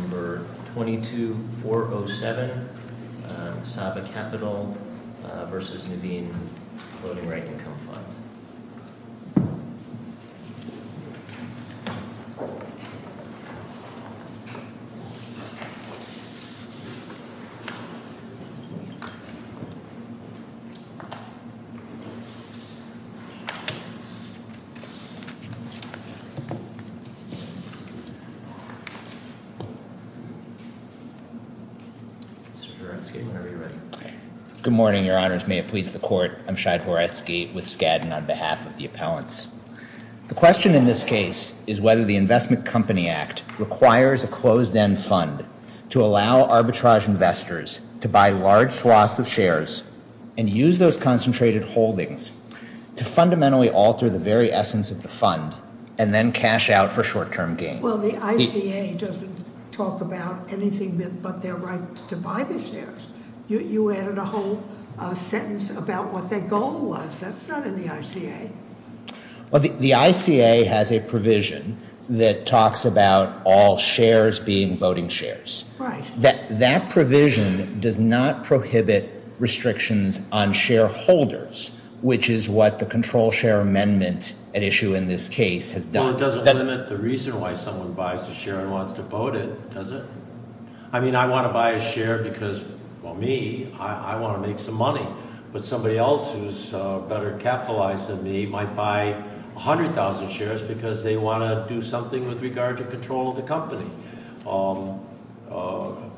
Number 22-407, Saba Capital versus Naveen Floating Rate Income Fund. The question in this case is whether the Investment Company Act requires a closed-end fund to allow arbitrage investors to buy large swaths of shares and use those concentrated holdings to fundamentally alter the very essence of the fund and then cash out for short-term gain. Well, the ICA doesn't talk about anything but their right to buy the shares. You added a whole sentence about what their goal was. That's not in the ICA. Well, the ICA has a provision that talks about all shares being voting shares. Right. That provision does not prohibit restrictions on shareholders, which is what the control share amendment at issue in this case has done. Well, it doesn't limit the reason why someone buys a share and wants to vote it, does it? I mean, I want to buy a share because, well, me, I want to make some money. But somebody else who's better capitalized than me might buy 100,000 shares because they want to do something with regard to control of the company.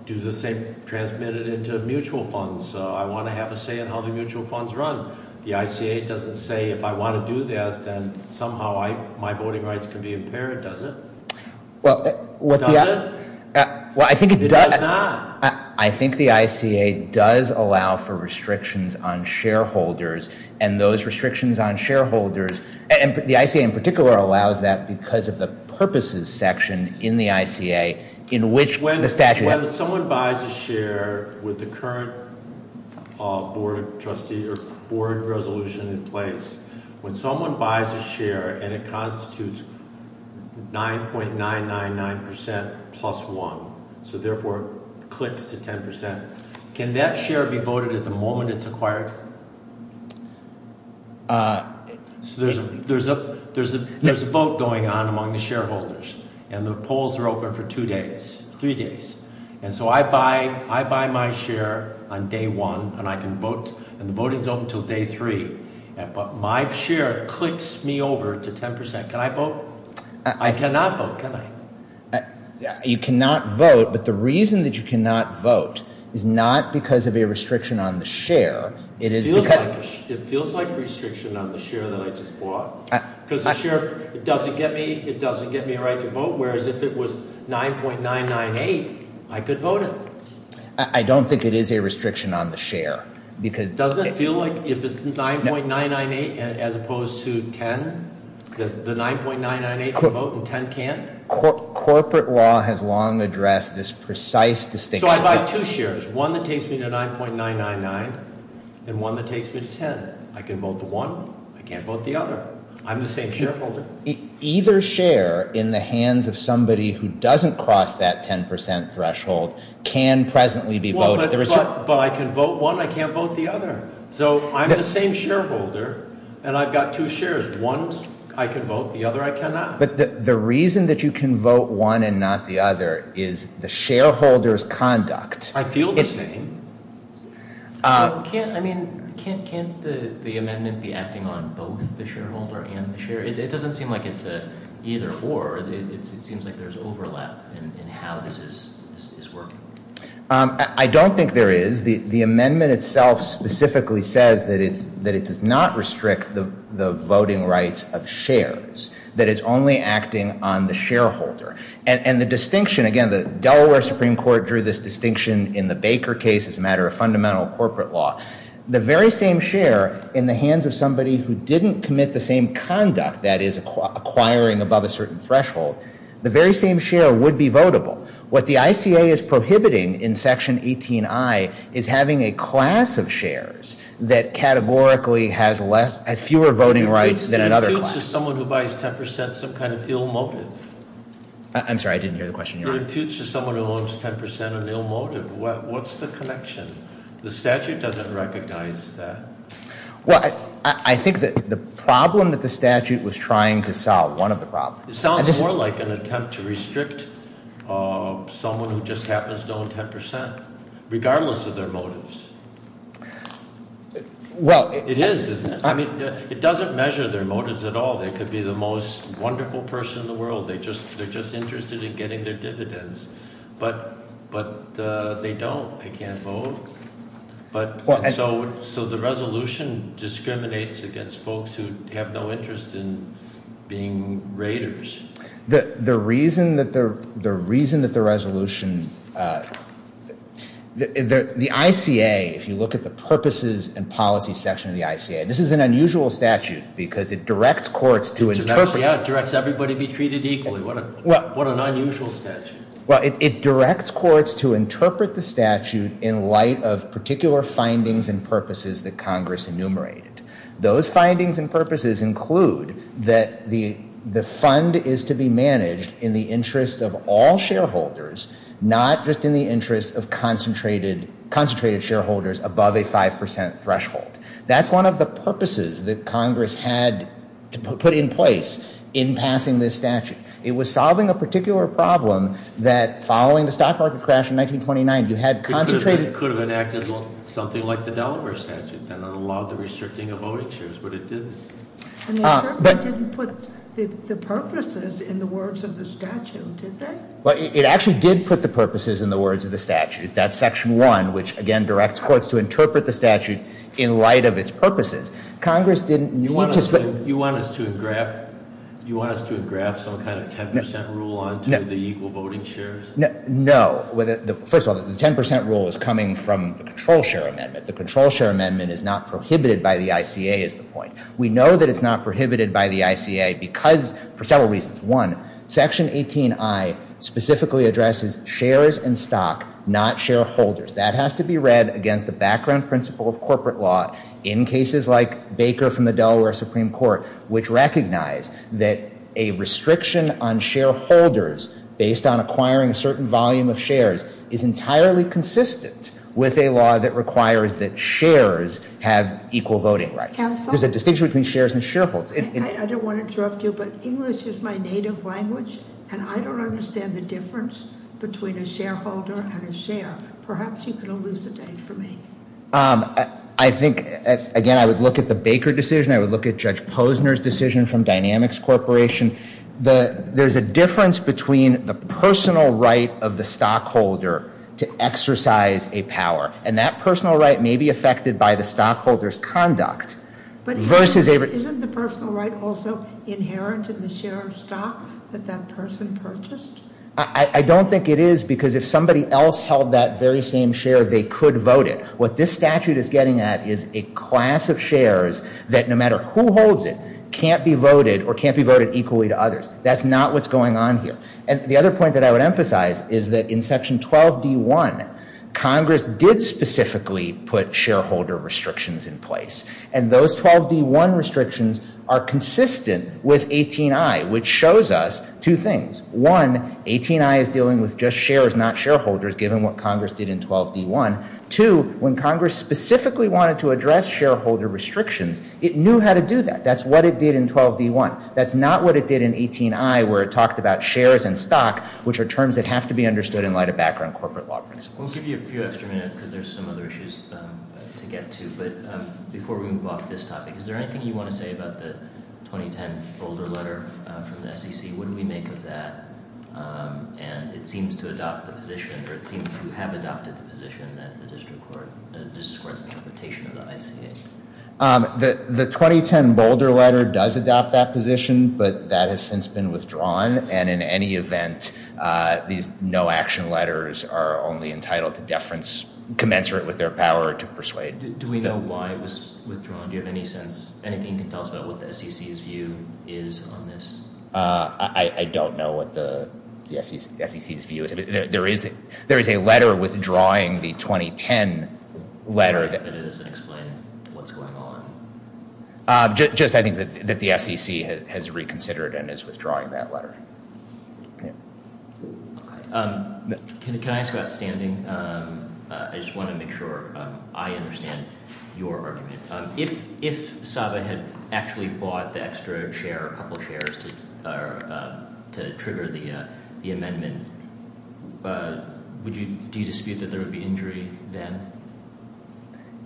Do the same, transmit it into mutual funds. I want to have a say in how the mutual funds run. The ICA doesn't say if I want to do that, then somehow my voting rights can be impaired, does it? Well, what the- Does it? Well, I think it does- It does not. I think the ICA does allow for restrictions on shareholders and those restrictions on shareholders, and the ICA in particular allows that because of the purposes section in the ICA in which the statute- When someone buys a share with the current board of trustees or board resolution in place, when someone buys a share and it constitutes 9.999% plus 1, so therefore it clicks to 10%, can that share be voted at the moment it's acquired? There's a vote going on among the shareholders, and the polls are open for two days, three days. And so I buy my share on day one, and I can vote, and the voting's open until day three. But my share clicks me over to 10%. Can I vote? I cannot vote, can I? You cannot vote, but the reason that you cannot vote is not because of a restriction on the share, it is because- It feels like restriction on the share that I just bought because the share, it doesn't get me a right to vote, whereas if it was 9.998, I could vote it. I don't think it is a restriction on the share because- Doesn't it feel like if it's 9.998 as opposed to 10, the 9.998 can vote and 10 can't? Corporate law has long addressed this precise distinction. So I buy two shares, one that takes me to 9.999, and one that takes me to 10. I can vote the one, I can't vote the other. I'm the same shareholder. Either share in the hands of somebody who doesn't cross that 10% threshold can presently be voted. But I can vote one, I can't vote the other. So I'm the same shareholder, and I've got two shares. One I can vote, the other I cannot. But the reason that you can vote one and not the other is the shareholder's conduct. I feel the same. Can't the amendment be acting on both the shareholder and the share? It doesn't seem like it's a either or. It seems like there's overlap in how this is working. I don't think there is. The amendment itself specifically says that it does not restrict the voting rights of shares. That it's only acting on the shareholder. And the distinction, again, the Delaware Supreme Court drew this distinction in the Baker case as a matter of fundamental corporate law. The very same share in the hands of somebody who didn't commit the same conduct, that is, acquiring above a certain threshold, the very same share would be votable. What the ICA is prohibiting in section 18I is having a class of shares that categorically has fewer voting rights than another class. It imputes to someone who buys 10% some kind of ill motive. I'm sorry, I didn't hear the question. It imputes to someone who owns 10% an ill motive. What's the connection? The statute doesn't recognize that. Well, I think that the problem that the statute was trying to solve, one of the problems. It sounds more like an attempt to restrict someone who just happens to own 10%, regardless of their motives. It is, isn't it? I mean, it doesn't measure their motives at all. They could be the most wonderful person in the world. They're just interested in getting their dividends. But they don't. They can't vote. So the resolution discriminates against folks who have no interest in being raiders. The reason that the resolution, the ICA, if you look at the purposes and policy section of the ICA, this is an unusual statute because it directs courts to interpret. Yeah, it directs everybody to be treated equally. What an unusual statute. Well, it directs courts to interpret the statute in light of particular findings and purposes that Congress enumerated. Those findings and purposes include that the fund is to be managed in the interest of all shareholders, not just in the interest of concentrated shareholders above a 5% threshold. That's one of the purposes that Congress had to put in place in passing this statute. It was solving a particular problem that, following the stock market crash in 1929, you had concentrated- It could have enacted something like the Delaware statute that allowed the restricting of voting shares, but it didn't. And they certainly didn't put the purposes in the words of the statute, did they? Well, it actually did put the purposes in the words of the statute. That's section one, which, again, directs courts to interpret the statute in light of its purposes. Congress didn't need to- So you want us to have graphed some kind of 10% rule onto the equal voting shares? No. First of all, the 10% rule is coming from the control share amendment. The control share amendment is not prohibited by the ICA is the point. We know that it's not prohibited by the ICA because- for several reasons. One, section 18I specifically addresses shares in stock, not shareholders. That has to be read against the background principle of corporate law in cases like Baker from the Delaware Supreme Court, which recognized that a restriction on shareholders based on acquiring a certain volume of shares is entirely consistent with a law that requires that shares have equal voting rights. Counsel? There's a distinction between shares and shareholders. I don't want to interrupt you, but English is my native language, and I don't understand the difference between a shareholder and a share. Perhaps you could elucidate for me. I think, again, I would look at the Baker decision. I would look at Judge Posner's decision from Dynamics Corporation. There's a difference between the personal right of the stockholder to exercise a power, and that personal right may be affected by the stockholder's conduct versus- But isn't the personal right also inherent in the share of stock that that person purchased? I don't think it is because if somebody else held that very same share, they could vote it. What this statute is getting at is a class of shares that, no matter who holds it, can't be voted or can't be voted equally to others. That's not what's going on here. And the other point that I would emphasize is that in section 12D1, Congress did specifically put shareholder restrictions in place, and those 12D1 restrictions are consistent with 18I, which shows us two things. One, 18I is dealing with just shares, not shareholders, given what Congress did in 12D1. Two, when Congress specifically wanted to address shareholder restrictions, it knew how to do that. That's what it did in 12D1. That's not what it did in 18I, where it talked about shares and stock, which are terms that have to be understood in light of background corporate law principles. We'll give you a few extra minutes because there's some other issues to get to. But before we move off this topic, is there anything you want to say about the 2010 Boulder letter from the SEC? What did we make of that? And it seems to adopt the position, or it seems to have adopted the position, that the district court's interpretation of the ICA. The 2010 Boulder letter does adopt that position, but that has since been withdrawn. And in any event, these no-action letters are only entitled to deference commensurate with their power to persuade. Do we know why it was withdrawn? Do you have any sense, anything you can tell us about what the SEC's view is on this? I don't know what the SEC's view is. There is a letter withdrawing the 2010 letter. But it doesn't explain what's going on? Just, I think, that the SEC has reconsidered and is withdrawing that letter. Can I ask about standing? I just want to make sure I understand your argument. If SAVA had actually bought the extra share, a couple of shares, to trigger the amendment, do you dispute that there would be injury then?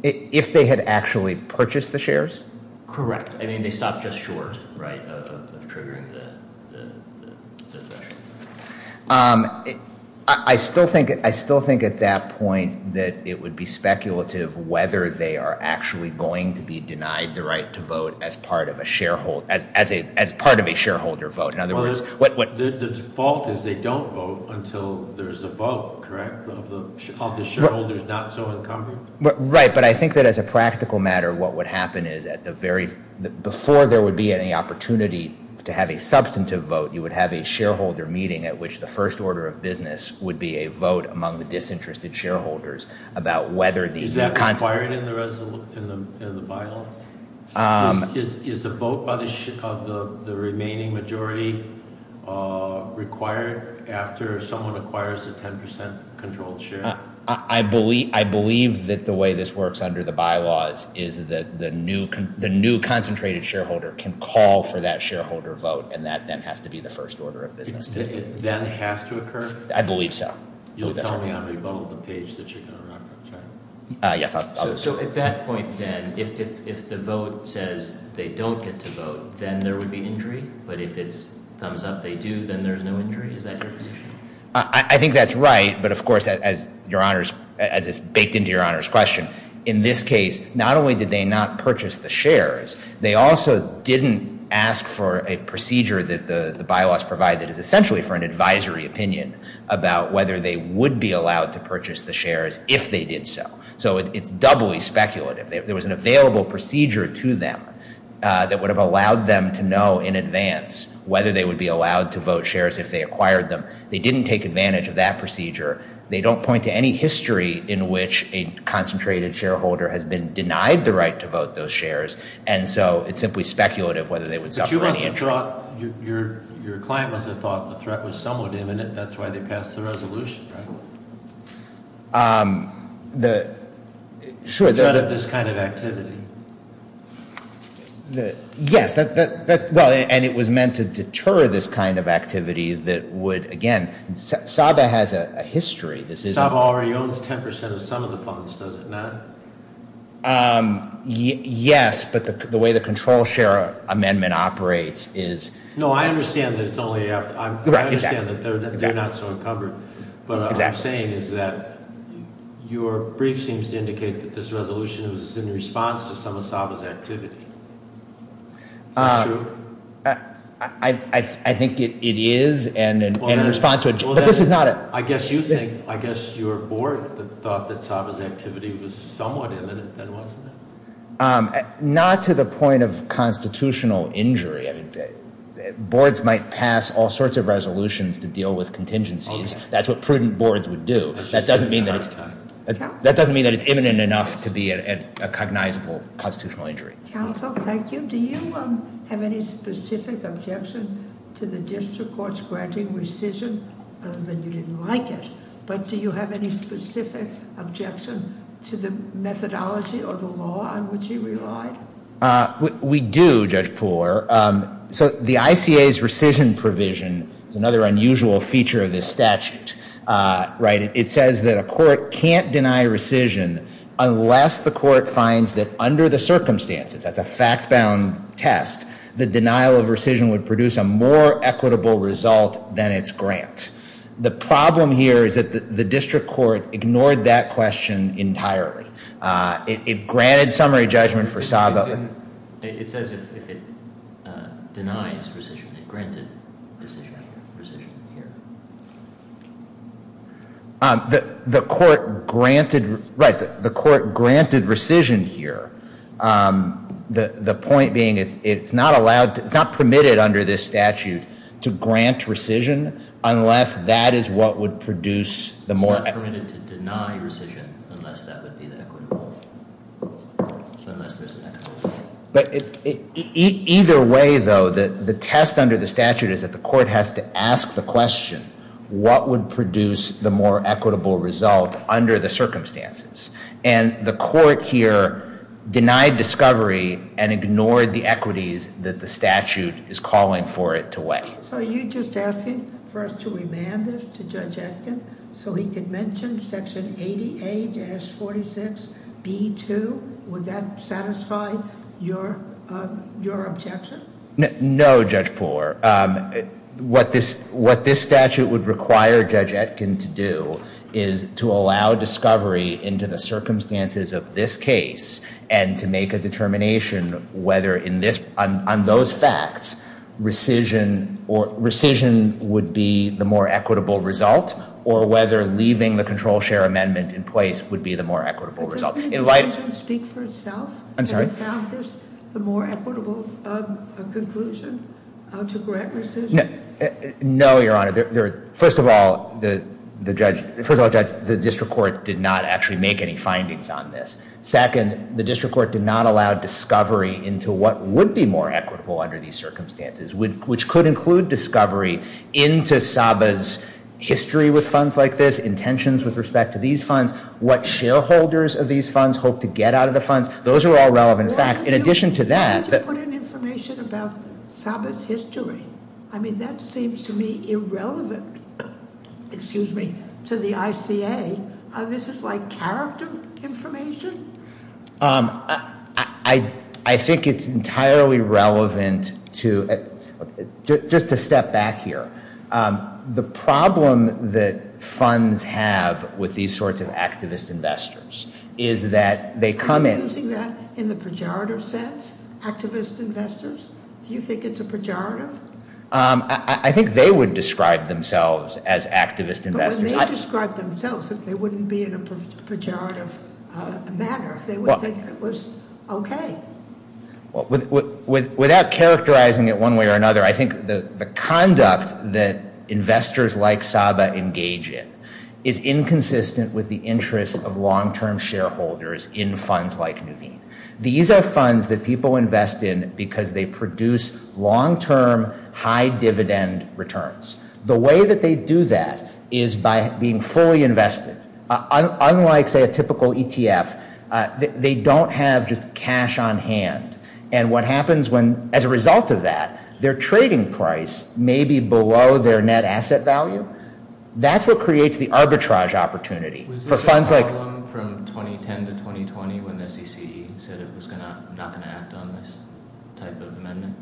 If they had actually purchased the shares? Correct. I mean, they stopped just short, right, of triggering the threshold. I still think at that point that it would be speculative whether they are actually going to be denied the right to vote as part of a shareholder vote. The default is they don't vote until there's a vote, correct, of the shareholders not so incumbent? Right, but I think that as a practical matter, what would happen is before there would be any opportunity to have a substantive vote, you would have a shareholder meeting at which the first order of business would be a vote among the disinterested shareholders about whether these- Is that required in the bylaws? Is the vote of the remaining majority required after someone acquires a 10% controlled share? I believe that the way this works under the bylaws is that the new concentrated shareholder can call for that shareholder vote, and that then has to be the first order of business. It then has to occur? I believe so. You'll tell me on rebuttal the page that you're going to reference, right? Yes, I'll- So at that point then, if the vote says they don't get to vote, then there would be injury? But if it's thumbs up they do, then there's no injury? Is that your position? I think that's right, but of course, as it's baked into Your Honor's question, in this case, not only did they not purchase the shares, they also didn't ask for a procedure that the bylaws provide that is essentially for an advisory opinion about whether they would be allowed to purchase the shares if they did so. So it's doubly speculative. There was an available procedure to them that would have allowed them to know in advance whether they would be allowed to vote shares if they acquired them. They didn't take advantage of that procedure. They don't point to any history in which a concentrated shareholder has been denied the right to vote those shares, and so it's simply speculative whether they would suffer any injury. But you must have thought, your client must have thought the threat was somewhat imminent. That's why they passed the resolution, right? The threat of this kind of activity. Yes, and it was meant to deter this kind of activity that would, again, SABA has a history. SABA already owns 10% of some of the funds, does it not? Yes, but the way the control share amendment operates is. No, I understand that they're not so encumbered, but what I'm saying is that your brief seems to indicate that this resolution was in response to some of SABA's activity. Is that true? I think it is in response to it, but this is not it. I guess your board thought that SABA's activity was somewhat imminent, then, wasn't it? Not to the point of constitutional injury. I mean, boards might pass all sorts of resolutions to deal with contingencies. That's what prudent boards would do. That doesn't mean that it's imminent enough to be a cognizable constitutional injury. Counsel, thank you. Do you have any specific objection to the district court's granting rescission that you didn't like it, but do you have any specific objection to the methodology or the law on which you relied? We do, Judge Pooler. So the ICA's rescission provision is another unusual feature of this statute, right? It says that a court can't deny rescission unless the court finds that under the circumstances, that's a fact-bound test, the denial of rescission would produce a more equitable result than its grant. The problem here is that the district court ignored that question entirely. It granted summary judgment for SABA. It says if it denies rescission, it granted rescission here. The court granted, right, the court granted rescission here. The point being it's not allowed, it's not permitted under this statute to grant rescission unless that is what would produce the more- Either way though, the test under the statute is that the court has to ask the question, what would produce the more equitable result under the circumstances? And the court here denied discovery and ignored the equities that the statute is calling for it to weigh. So you're just asking for us to remand this to Judge Atkin so he could mention section 80A-46B2, would that satisfy your objection? No, Judge Poore, what this statute would require Judge Atkin to do is to allow discovery into the circumstances of this case and to make a determination whether on those facts rescission would be the more equitable result or whether leaving the control share amendment in place would be the more equitable result. Doesn't the decision speak for itself? I'm sorry? The more equitable conclusion to grant rescission? No, Your Honor. First of all, the district court did not actually make any findings on this. Second, the district court did not allow discovery into what would be more equitable under these circumstances, which could include discovery into Saba's history with funds like this, intentions with respect to these funds, what shareholders of these funds hope to get out of the funds. Those are all relevant facts. In addition to that- Why would you put in information about Saba's history? I mean, that seems to me irrelevant to the ICA. This is like character information? I think it's entirely relevant to, just to step back here. The problem that funds have with these sorts of activist investors is that they come in- Are you using that in the pejorative sense, activist investors? Do you think it's a pejorative? I think they would describe themselves as activist investors. They would describe themselves if they wouldn't be in a pejorative manner, if they would think it was okay. Without characterizing it one way or another, I think the conduct that investors like Saba engage in is inconsistent with the interests of long-term shareholders in funds like Nuveen. These are funds that people invest in because they produce long-term, high-dividend returns. The way that they do that is by being fully invested. Unlike, say, a typical ETF, they don't have just cash on hand. And what happens when, as a result of that, their trading price may be below their net asset value? That's what creates the arbitrage opportunity for funds like- Was this a problem from 2010 to 2020 when the CCE said it was not going to act on this type of amendment?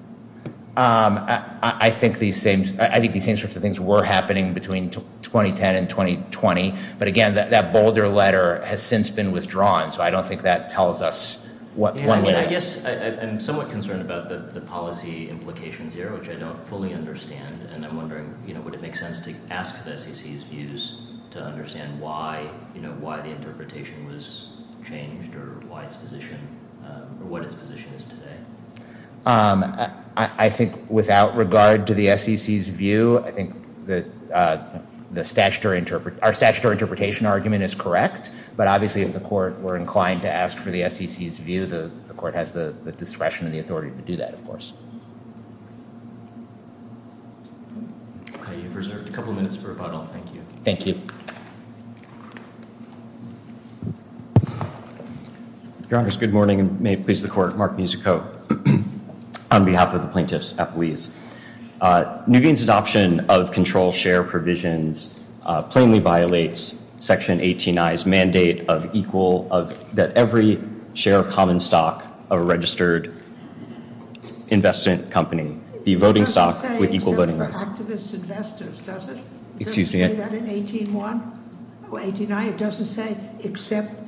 I think these same sorts of things were happening between 2010 and 2020. But again, that bolder letter has since been withdrawn, so I don't think that tells us what- I guess I'm somewhat concerned about the policy implications here, which I don't fully understand. And I'm wondering, would it make sense to ask the SEC's views to understand why the interpretation was changed or what its position is today? I think without regard to the SEC's view, I think our statutory interpretation argument is correct. But obviously, if the Court were inclined to ask for the SEC's view, the Court has the discretion and the authority to do that, of course. You've reserved a couple minutes for rebuttal. Thank you. Thank you. Thank you. Your Honors, good morning, and may it please the Court, Mark Musico on behalf of the Plaintiffs' Appeas. Nubian's adoption of control share provisions plainly violates Section 18I's mandate of equal- that every share of common stock of a registered investment company be voting stock with equal voting rights. It doesn't say except for activist investors, does it? Did you say that in 18I? It doesn't say except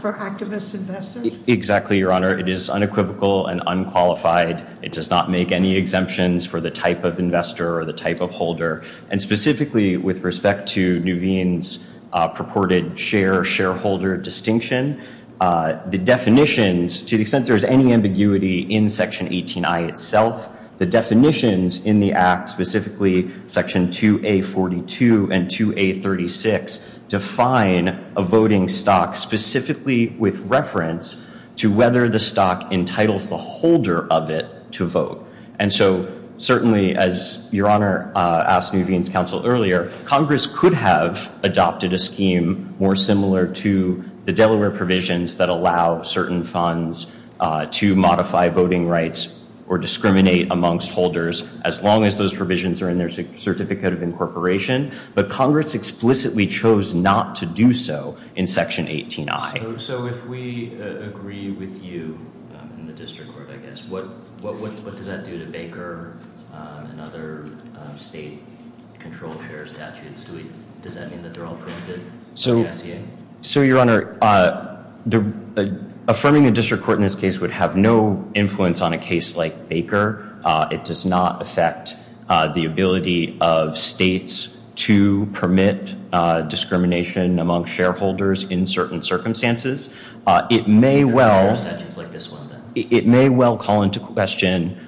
for activist investors? Exactly, Your Honor. It is unequivocal and unqualified. It does not make any exemptions for the type of investor or the type of holder. And specifically with respect to Nubian's purported shareholder distinction, the definitions, to the extent there is any ambiguity in Section 18I itself, the definitions in the Act, specifically Section 2A42 and 2A36, define a voting stock specifically with reference to whether the stock entitles the holder of it to vote. And so certainly, as Your Honor asked Nubian's counsel earlier, Congress could have adopted a scheme more similar to the Delaware provisions that allow certain funds to modify voting rights or discriminate amongst holders as long as those provisions are in their Certificate of Incorporation. But Congress explicitly chose not to do so in Section 18I. So if we agree with you in the district court, I guess, what does that do to Baker and other state control share statutes? Does that mean that they're all protected by the SEA? So, Your Honor, affirming a district court in this case would have no influence on a case like Baker. It does not affect the ability of states to permit discrimination among shareholders in certain circumstances. It may well call into question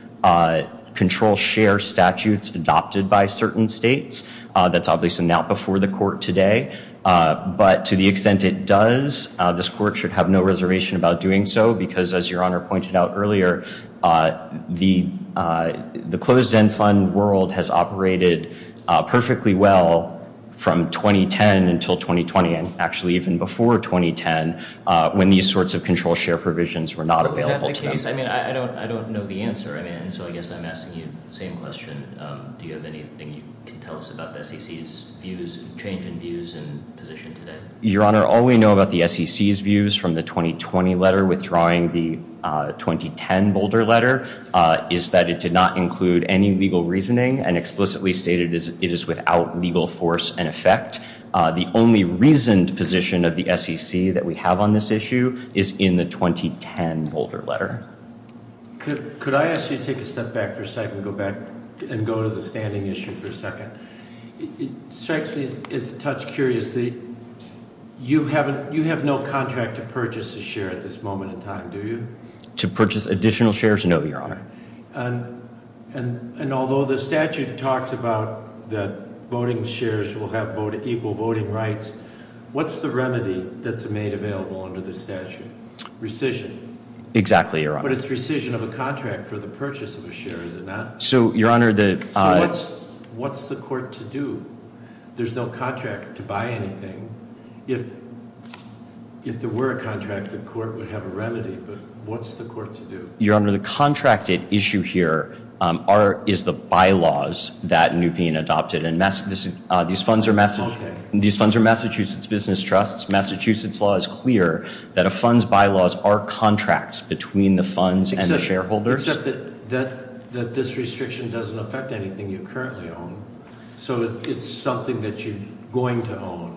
control share statutes adopted by certain states. That's obviously not before the court today. But to the extent it does, this court should have no reservation about doing so because, as Your Honor pointed out earlier, the closed end fund world has operated perfectly well from 2010 until 2020, and actually even before 2010, when these sorts of control share provisions were not available to them. I mean, I don't know the answer. And so I guess I'm asking you the same question. Do you have anything you can tell us about the SEC's views, change in views and position today? Your Honor, all we know about the SEC's views from the 2020 letter withdrawing the 2010 Boulder letter is that it did not include any legal reasoning and explicitly stated it is without legal force and effect. The only reasoned position of the SEC that we have on this issue is in the 2010 Boulder letter. Could I ask you to take a step back for a second and go to the standing issue for a second? It strikes me as a touch curious that you have no contract to purchase a share at this moment in time, do you? To purchase additional shares? No, Your Honor. And although the statute talks about that voting shares will have equal voting rights, what's the remedy that's made available under the statute? Rescission. Exactly, Your Honor. But it's rescission of a contract for the purchase of a share, is it not? So, Your Honor, the- So what's the court to do? There's no contract to buy anything. If there were a contract, the court would have a remedy, but what's the court to do? Your Honor, the contracted issue here is the bylaws that are being adopted. And these funds are Massachusetts business trusts. Massachusetts law is clear that a fund's bylaws are contracts between the funds and the shareholders. Except that this restriction doesn't affect anything you currently own, so it's something that you're going to own,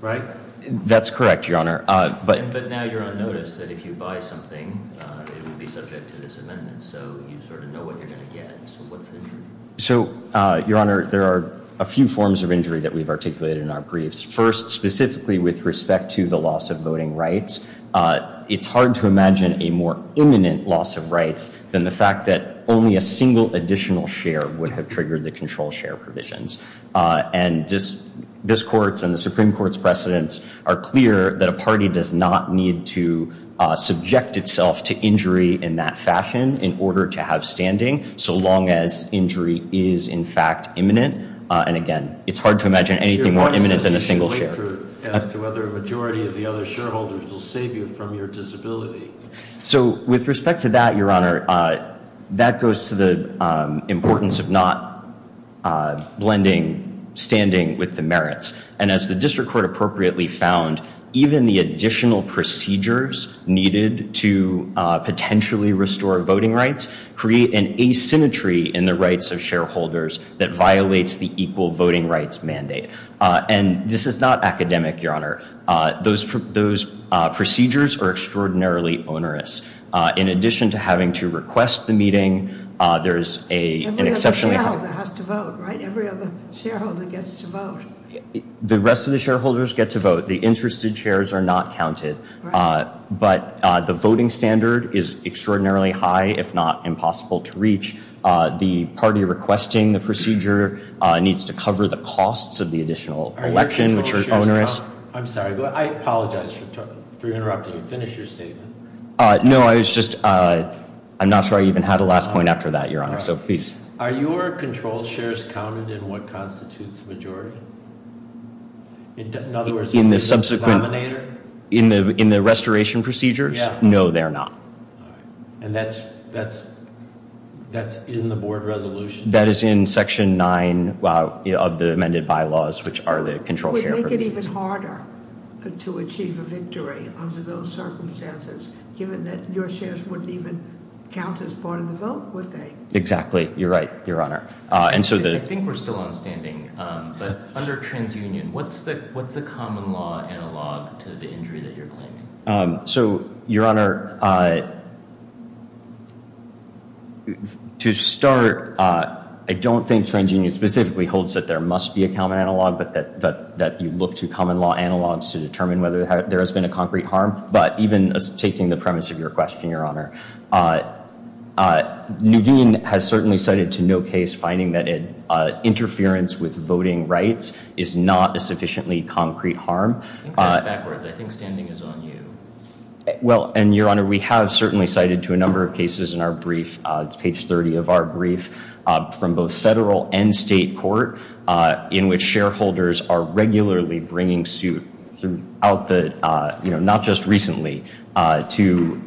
right? That's correct, Your Honor, but- But now you're on notice that if you buy something, it would be subject to this amendment, so you sort of know what you're going to get. So what's the- So, Your Honor, there are a few forms of injury that we've articulated in our briefs. First, specifically with respect to the loss of voting rights, it's hard to imagine a more imminent loss of rights than the fact that only a single additional share would have triggered the control share provisions. And this Court and the Supreme Court's precedents are clear that a party does not need to subject itself to injury in that fashion in order to have standing, so long as injury is, in fact, imminent. And again, it's hard to imagine anything more imminent than a single share. Your Honor, this is the only answer as to whether a majority of the other shareholders will save you from your disability. So, with respect to that, Your Honor, that goes to the importance of not blending standing with the merits. And as the District Court appropriately found, even the additional procedures needed to potentially restore voting rights create an asymmetry in the rights of shareholders that violates the equal voting rights mandate. And this is not academic, Your Honor. Those procedures are extraordinarily onerous. In addition to having to request the meeting, there is an exceptionally- Every other shareholder has to vote, right? Every other shareholder gets to vote. The rest of the shareholders get to vote. The interested shares are not counted. But the voting standard is extraordinarily high, if not impossible to reach. The party requesting the procedure needs to cover the costs of the additional election, which are onerous. I'm sorry. I apologize for interrupting you. Finish your statement. No, I was just- I'm not sure I even had a last point after that, Your Honor, so please. Are your control shares counted in what constitutes majority? In other words- In the subsequent- In the denominator? In the restoration procedures? Yeah. No, they're not. And that's in the board resolution? That is in Section 9 of the amended bylaws, which are the control share- It would make it even harder to achieve a victory under those circumstances, given that your shares wouldn't even count as part of the vote, would they? Exactly. You're right, Your Honor. I think we're still on standing, but under TransUnion, what's the common law analog to the injury that you're claiming? So, Your Honor, to start, I don't think TransUnion specifically holds that there must be a common analog, but that you look to common law analogs to determine whether there has been a concrete harm. But even taking the premise of your question, Your Honor, Nuveen has certainly cited to no case finding that interference with voting rights is not a sufficiently concrete harm. I think that's backwards. I think standing is on you. Well, and, Your Honor, we have certainly cited to a number of cases in our brief, it's page 30 of our brief, from both federal and state court in which shareholders are regularly bringing suit not just recently to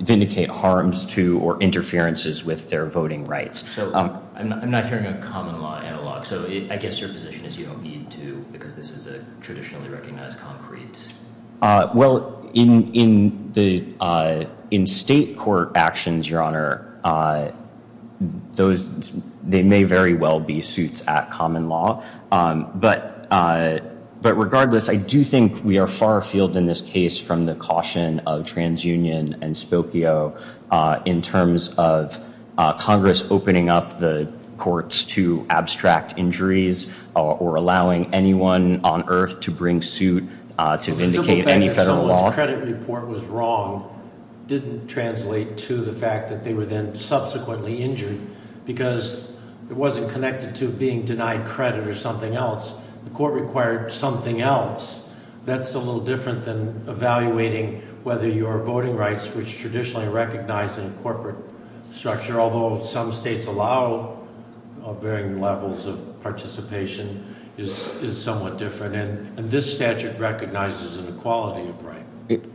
vindicate harms to or interferences with their voting rights. So I'm not hearing a common law analog. So I guess your position is you don't need to because this is a traditionally recognized concrete. Well, in state court actions, Your Honor, they may very well be suits at common law. But regardless, I do think we are far afield in this case from the caution of TransUnion and Spokio in terms of Congress opening up the courts to abstract injuries or allowing anyone on Earth to bring suit to vindicate any federal law. The simple fact that Soledge's credit report was wrong didn't translate to the fact that they were then subsequently injured because it wasn't connected to being denied credit or something else. The court required something else. That's a little different than evaluating whether your voting rights, which are traditionally recognized in a corporate structure, although some states allow varying levels of participation, is somewhat different. And this statute recognizes an equality of right.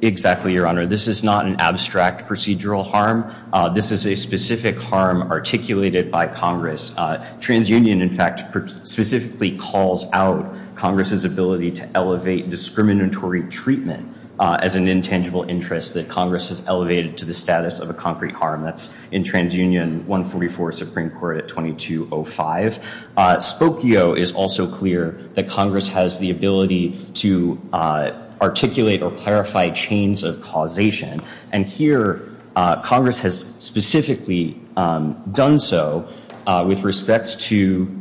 Exactly, Your Honor. This is not an abstract procedural harm. This is a specific harm articulated by Congress. TransUnion, in fact, specifically calls out Congress's ability to elevate discriminatory treatment as an intangible interest that Congress has elevated to the status of a concrete harm. That's in TransUnion 144 Supreme Court at 2205. Spokio is also clear that Congress has the ability to articulate or clarify chains of causation. And here Congress has specifically done so with respect to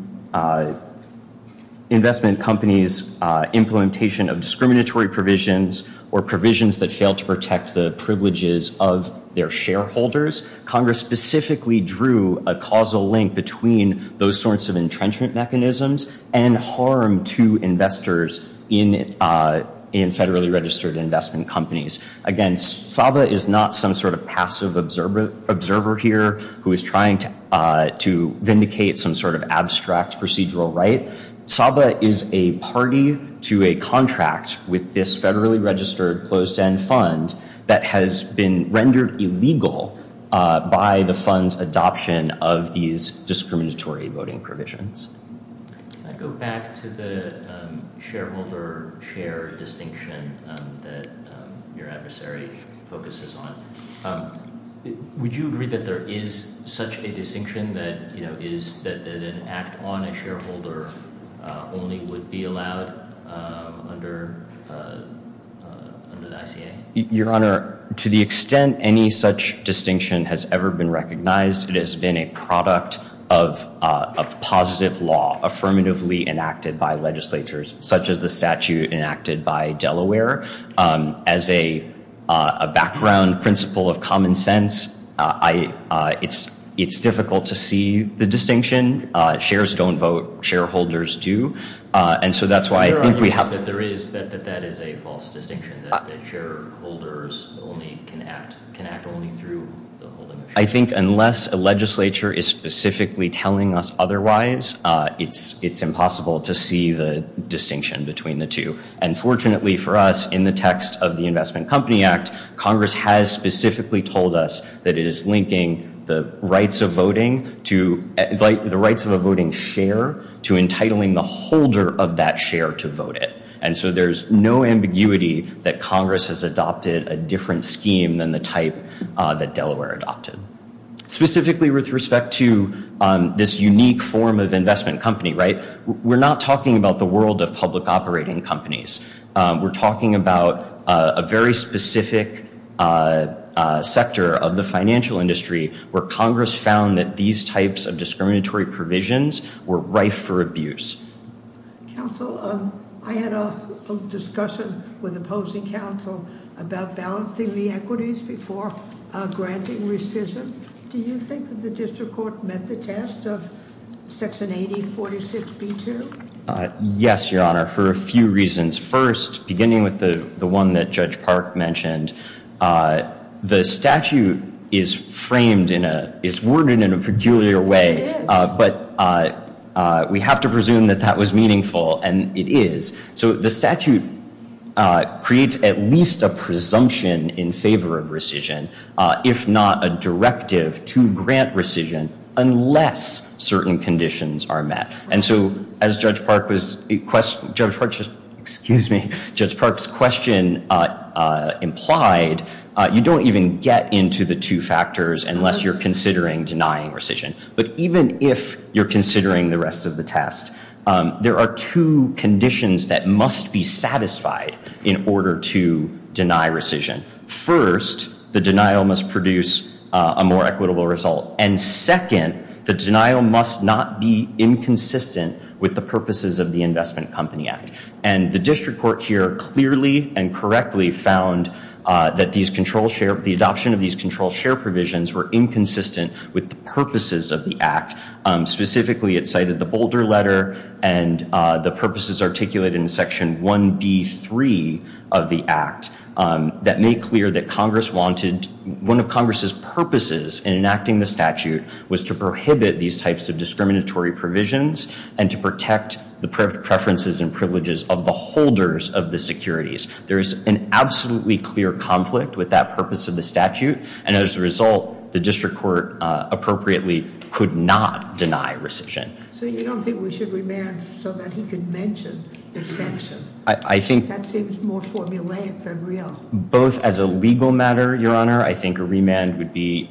investment companies, implementation of discriminatory provisions or provisions that fail to protect the privileges of their shareholders. Congress specifically drew a causal link between those sorts of entrenchment mechanisms and harm to investors in federally registered investment companies. Again, Saba is not some sort of passive observer here who is trying to vindicate some sort of abstract procedural right. Saba is a party to a contract with this federally registered closed end fund that has been rendered illegal by the fund's adoption of these discriminatory voting provisions. I go back to the shareholder share distinction that your adversary focuses on. Would you agree that there is such a distinction that is that an act on a shareholder only would be allowed under the ICA? Your Honor, to the extent any such distinction has ever been recognized, it has been a product of positive law affirmatively enacted by legislatures such as the statute enacted by Delaware. As a background principle of common sense, it's difficult to see the distinction. Shares don't vote. Shareholders do. And so that's why I think we have... Your Honor, there is that that is a false distinction that shareholders can act only through the holding of shares. I think unless a legislature is specifically telling us otherwise, it's impossible to see the distinction between the two. And fortunately for us, in the text of the Investment Company Act, Congress has specifically told us that it is linking the rights of a voting share to entitling the holder of that share to vote it. And so there's no ambiguity that Congress has adopted a different scheme than the type that Delaware adopted. Specifically with respect to this unique form of investment company, right? We're not talking about the world of public operating companies. We're talking about a very specific sector of the financial industry where Congress found that these types of discriminatory provisions were rife for abuse. Counsel, I had a discussion with opposing counsel about balancing the equities before granting rescission. Do you think that the district court met the test of Section 8046B2? Yes, Your Honor, for a few reasons. First, beginning with the one that Judge Park mentioned, the statute is framed in a... It is. But we have to presume that that was meaningful, and it is. So the statute creates at least a presumption in favor of rescission, if not a directive to grant rescission, unless certain conditions are met. And so as Judge Park's question implied, you don't even get into the two factors unless you're considering denying rescission. But even if you're considering the rest of the test, there are two conditions that must be satisfied in order to deny rescission. First, the denial must produce a more equitable result. And second, the denial must not be inconsistent with the purposes of the Investment Company Act. And the district court here clearly and correctly found that the adoption of these control share provisions were inconsistent with the purposes of the Act. Specifically, it cited the Boulder Letter and the purposes articulated in Section 1B3 of the Act that made clear that Congress wanted... was to prohibit these types of discriminatory provisions and to protect the preferences and privileges of the holders of the securities. There is an absolutely clear conflict with that purpose of the statute, and as a result, the district court appropriately could not deny rescission. So you don't think we should remand so that he could mention the sanction? I think... That seems more formulaic than real. Both as a legal matter, Your Honor, I think a remand would be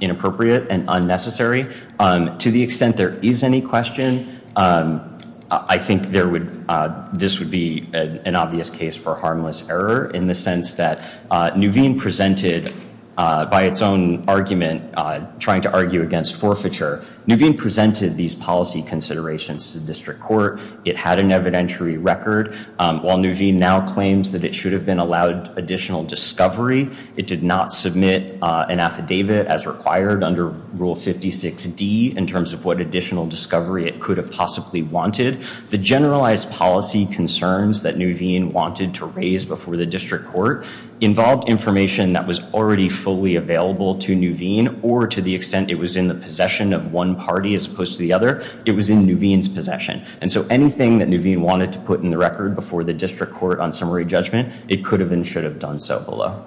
inappropriate and unnecessary. To the extent there is any question, I think this would be an obvious case for harmless error, in the sense that Nuveen presented, by its own argument, trying to argue against forfeiture. Nuveen presented these policy considerations to the district court. It had an evidentiary record. While Nuveen now claims that it should have been allowed additional discovery, it did not submit an affidavit as required under Rule 56D in terms of what additional discovery it could have possibly wanted. The generalized policy concerns that Nuveen wanted to raise before the district court involved information that was already fully available to Nuveen, or to the extent it was in the possession of one party as opposed to the other, it was in Nuveen's possession. And so anything that Nuveen wanted to put in the record before the district court on summary judgment, it could have and should have done so below.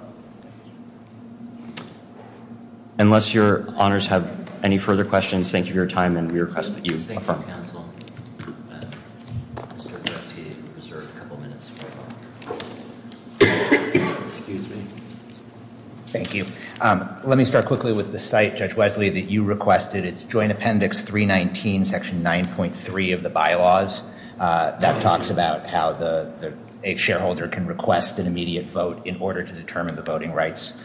Unless Your Honors have any further questions, thank you for your time, and we request that you affirm. Thank you, counsel. Mr. Brzezinski, you have a couple minutes. Excuse me. Thank you. Let me start quickly with the site, Judge Wesley, that you requested. It's joint appendix 319, section 9.3 of the bylaws. That talks about how a shareholder can request an immediate vote in order to determine the voting rights.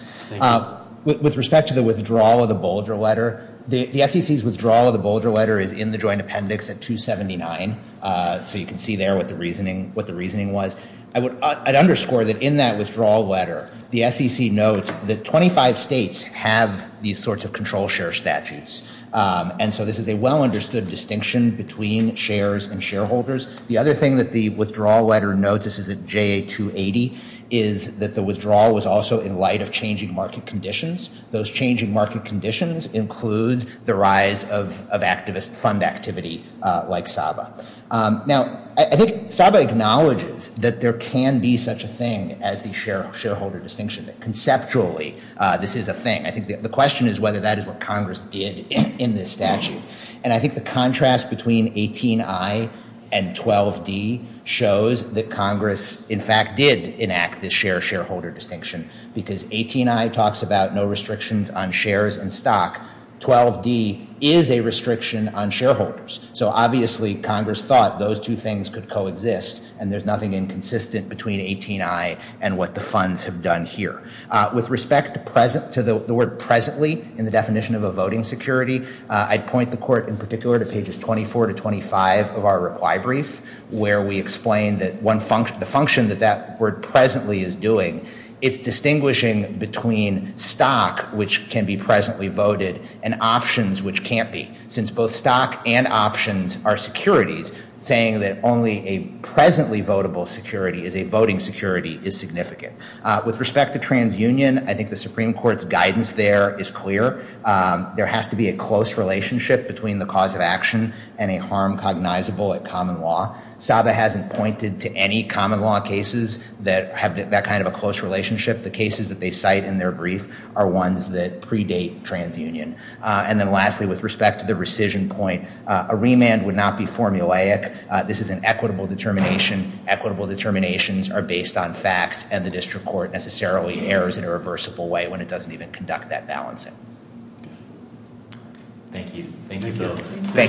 With respect to the withdrawal of the Boulder letter, the SEC's withdrawal of the Boulder letter is in the joint appendix at 279. So you can see there what the reasoning was. I'd underscore that in that withdrawal letter, the SEC notes that 25 states have these sorts of control share statutes. And so this is a well-understood distinction between shares and shareholders. The other thing that the withdrawal letter notes, this is at JA-280, is that the withdrawal was also in light of changing market conditions. Those changing market conditions include the rise of activist fund activity like SABA. Now, I think SABA acknowledges that there can be such a thing as the shareholder distinction. Conceptually, this is a thing. I think the question is whether that is what Congress did in this statute. And I think the contrast between 18I and 12D shows that Congress, in fact, did enact this share-shareholder distinction. Because 18I talks about no restrictions on shares and stock. 12D is a restriction on shareholders. So obviously, Congress thought those two things could coexist. And there's nothing inconsistent between 18I and what the funds have done here. With respect to the word presently in the definition of a voting security, I'd point the court in particular to pages 24 to 25 of our requi-brief. Where we explain the function that that word presently is doing. It's distinguishing between stock, which can be presently voted, and options, which can't be. Since both stock and options are securities, saying that only a presently votable security is a voting security is significant. With respect to transunion, I think the Supreme Court's guidance there is clear. There has to be a close relationship between the cause of action and a harm cognizable at common law. SABA hasn't pointed to any common law cases that have that kind of a close relationship. The cases that they cite in their brief are ones that predate transunion. And then lastly, with respect to the rescission point, a remand would not be formulaic. This is an equitable determination. Equitable determinations are based on facts. And the district court necessarily errs in a reversible way when it doesn't even conduct that balancing. Thank you. Thank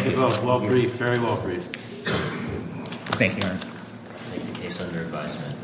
you both. Well briefed. Very well briefed. Thank you. Thank you. Case under advisement.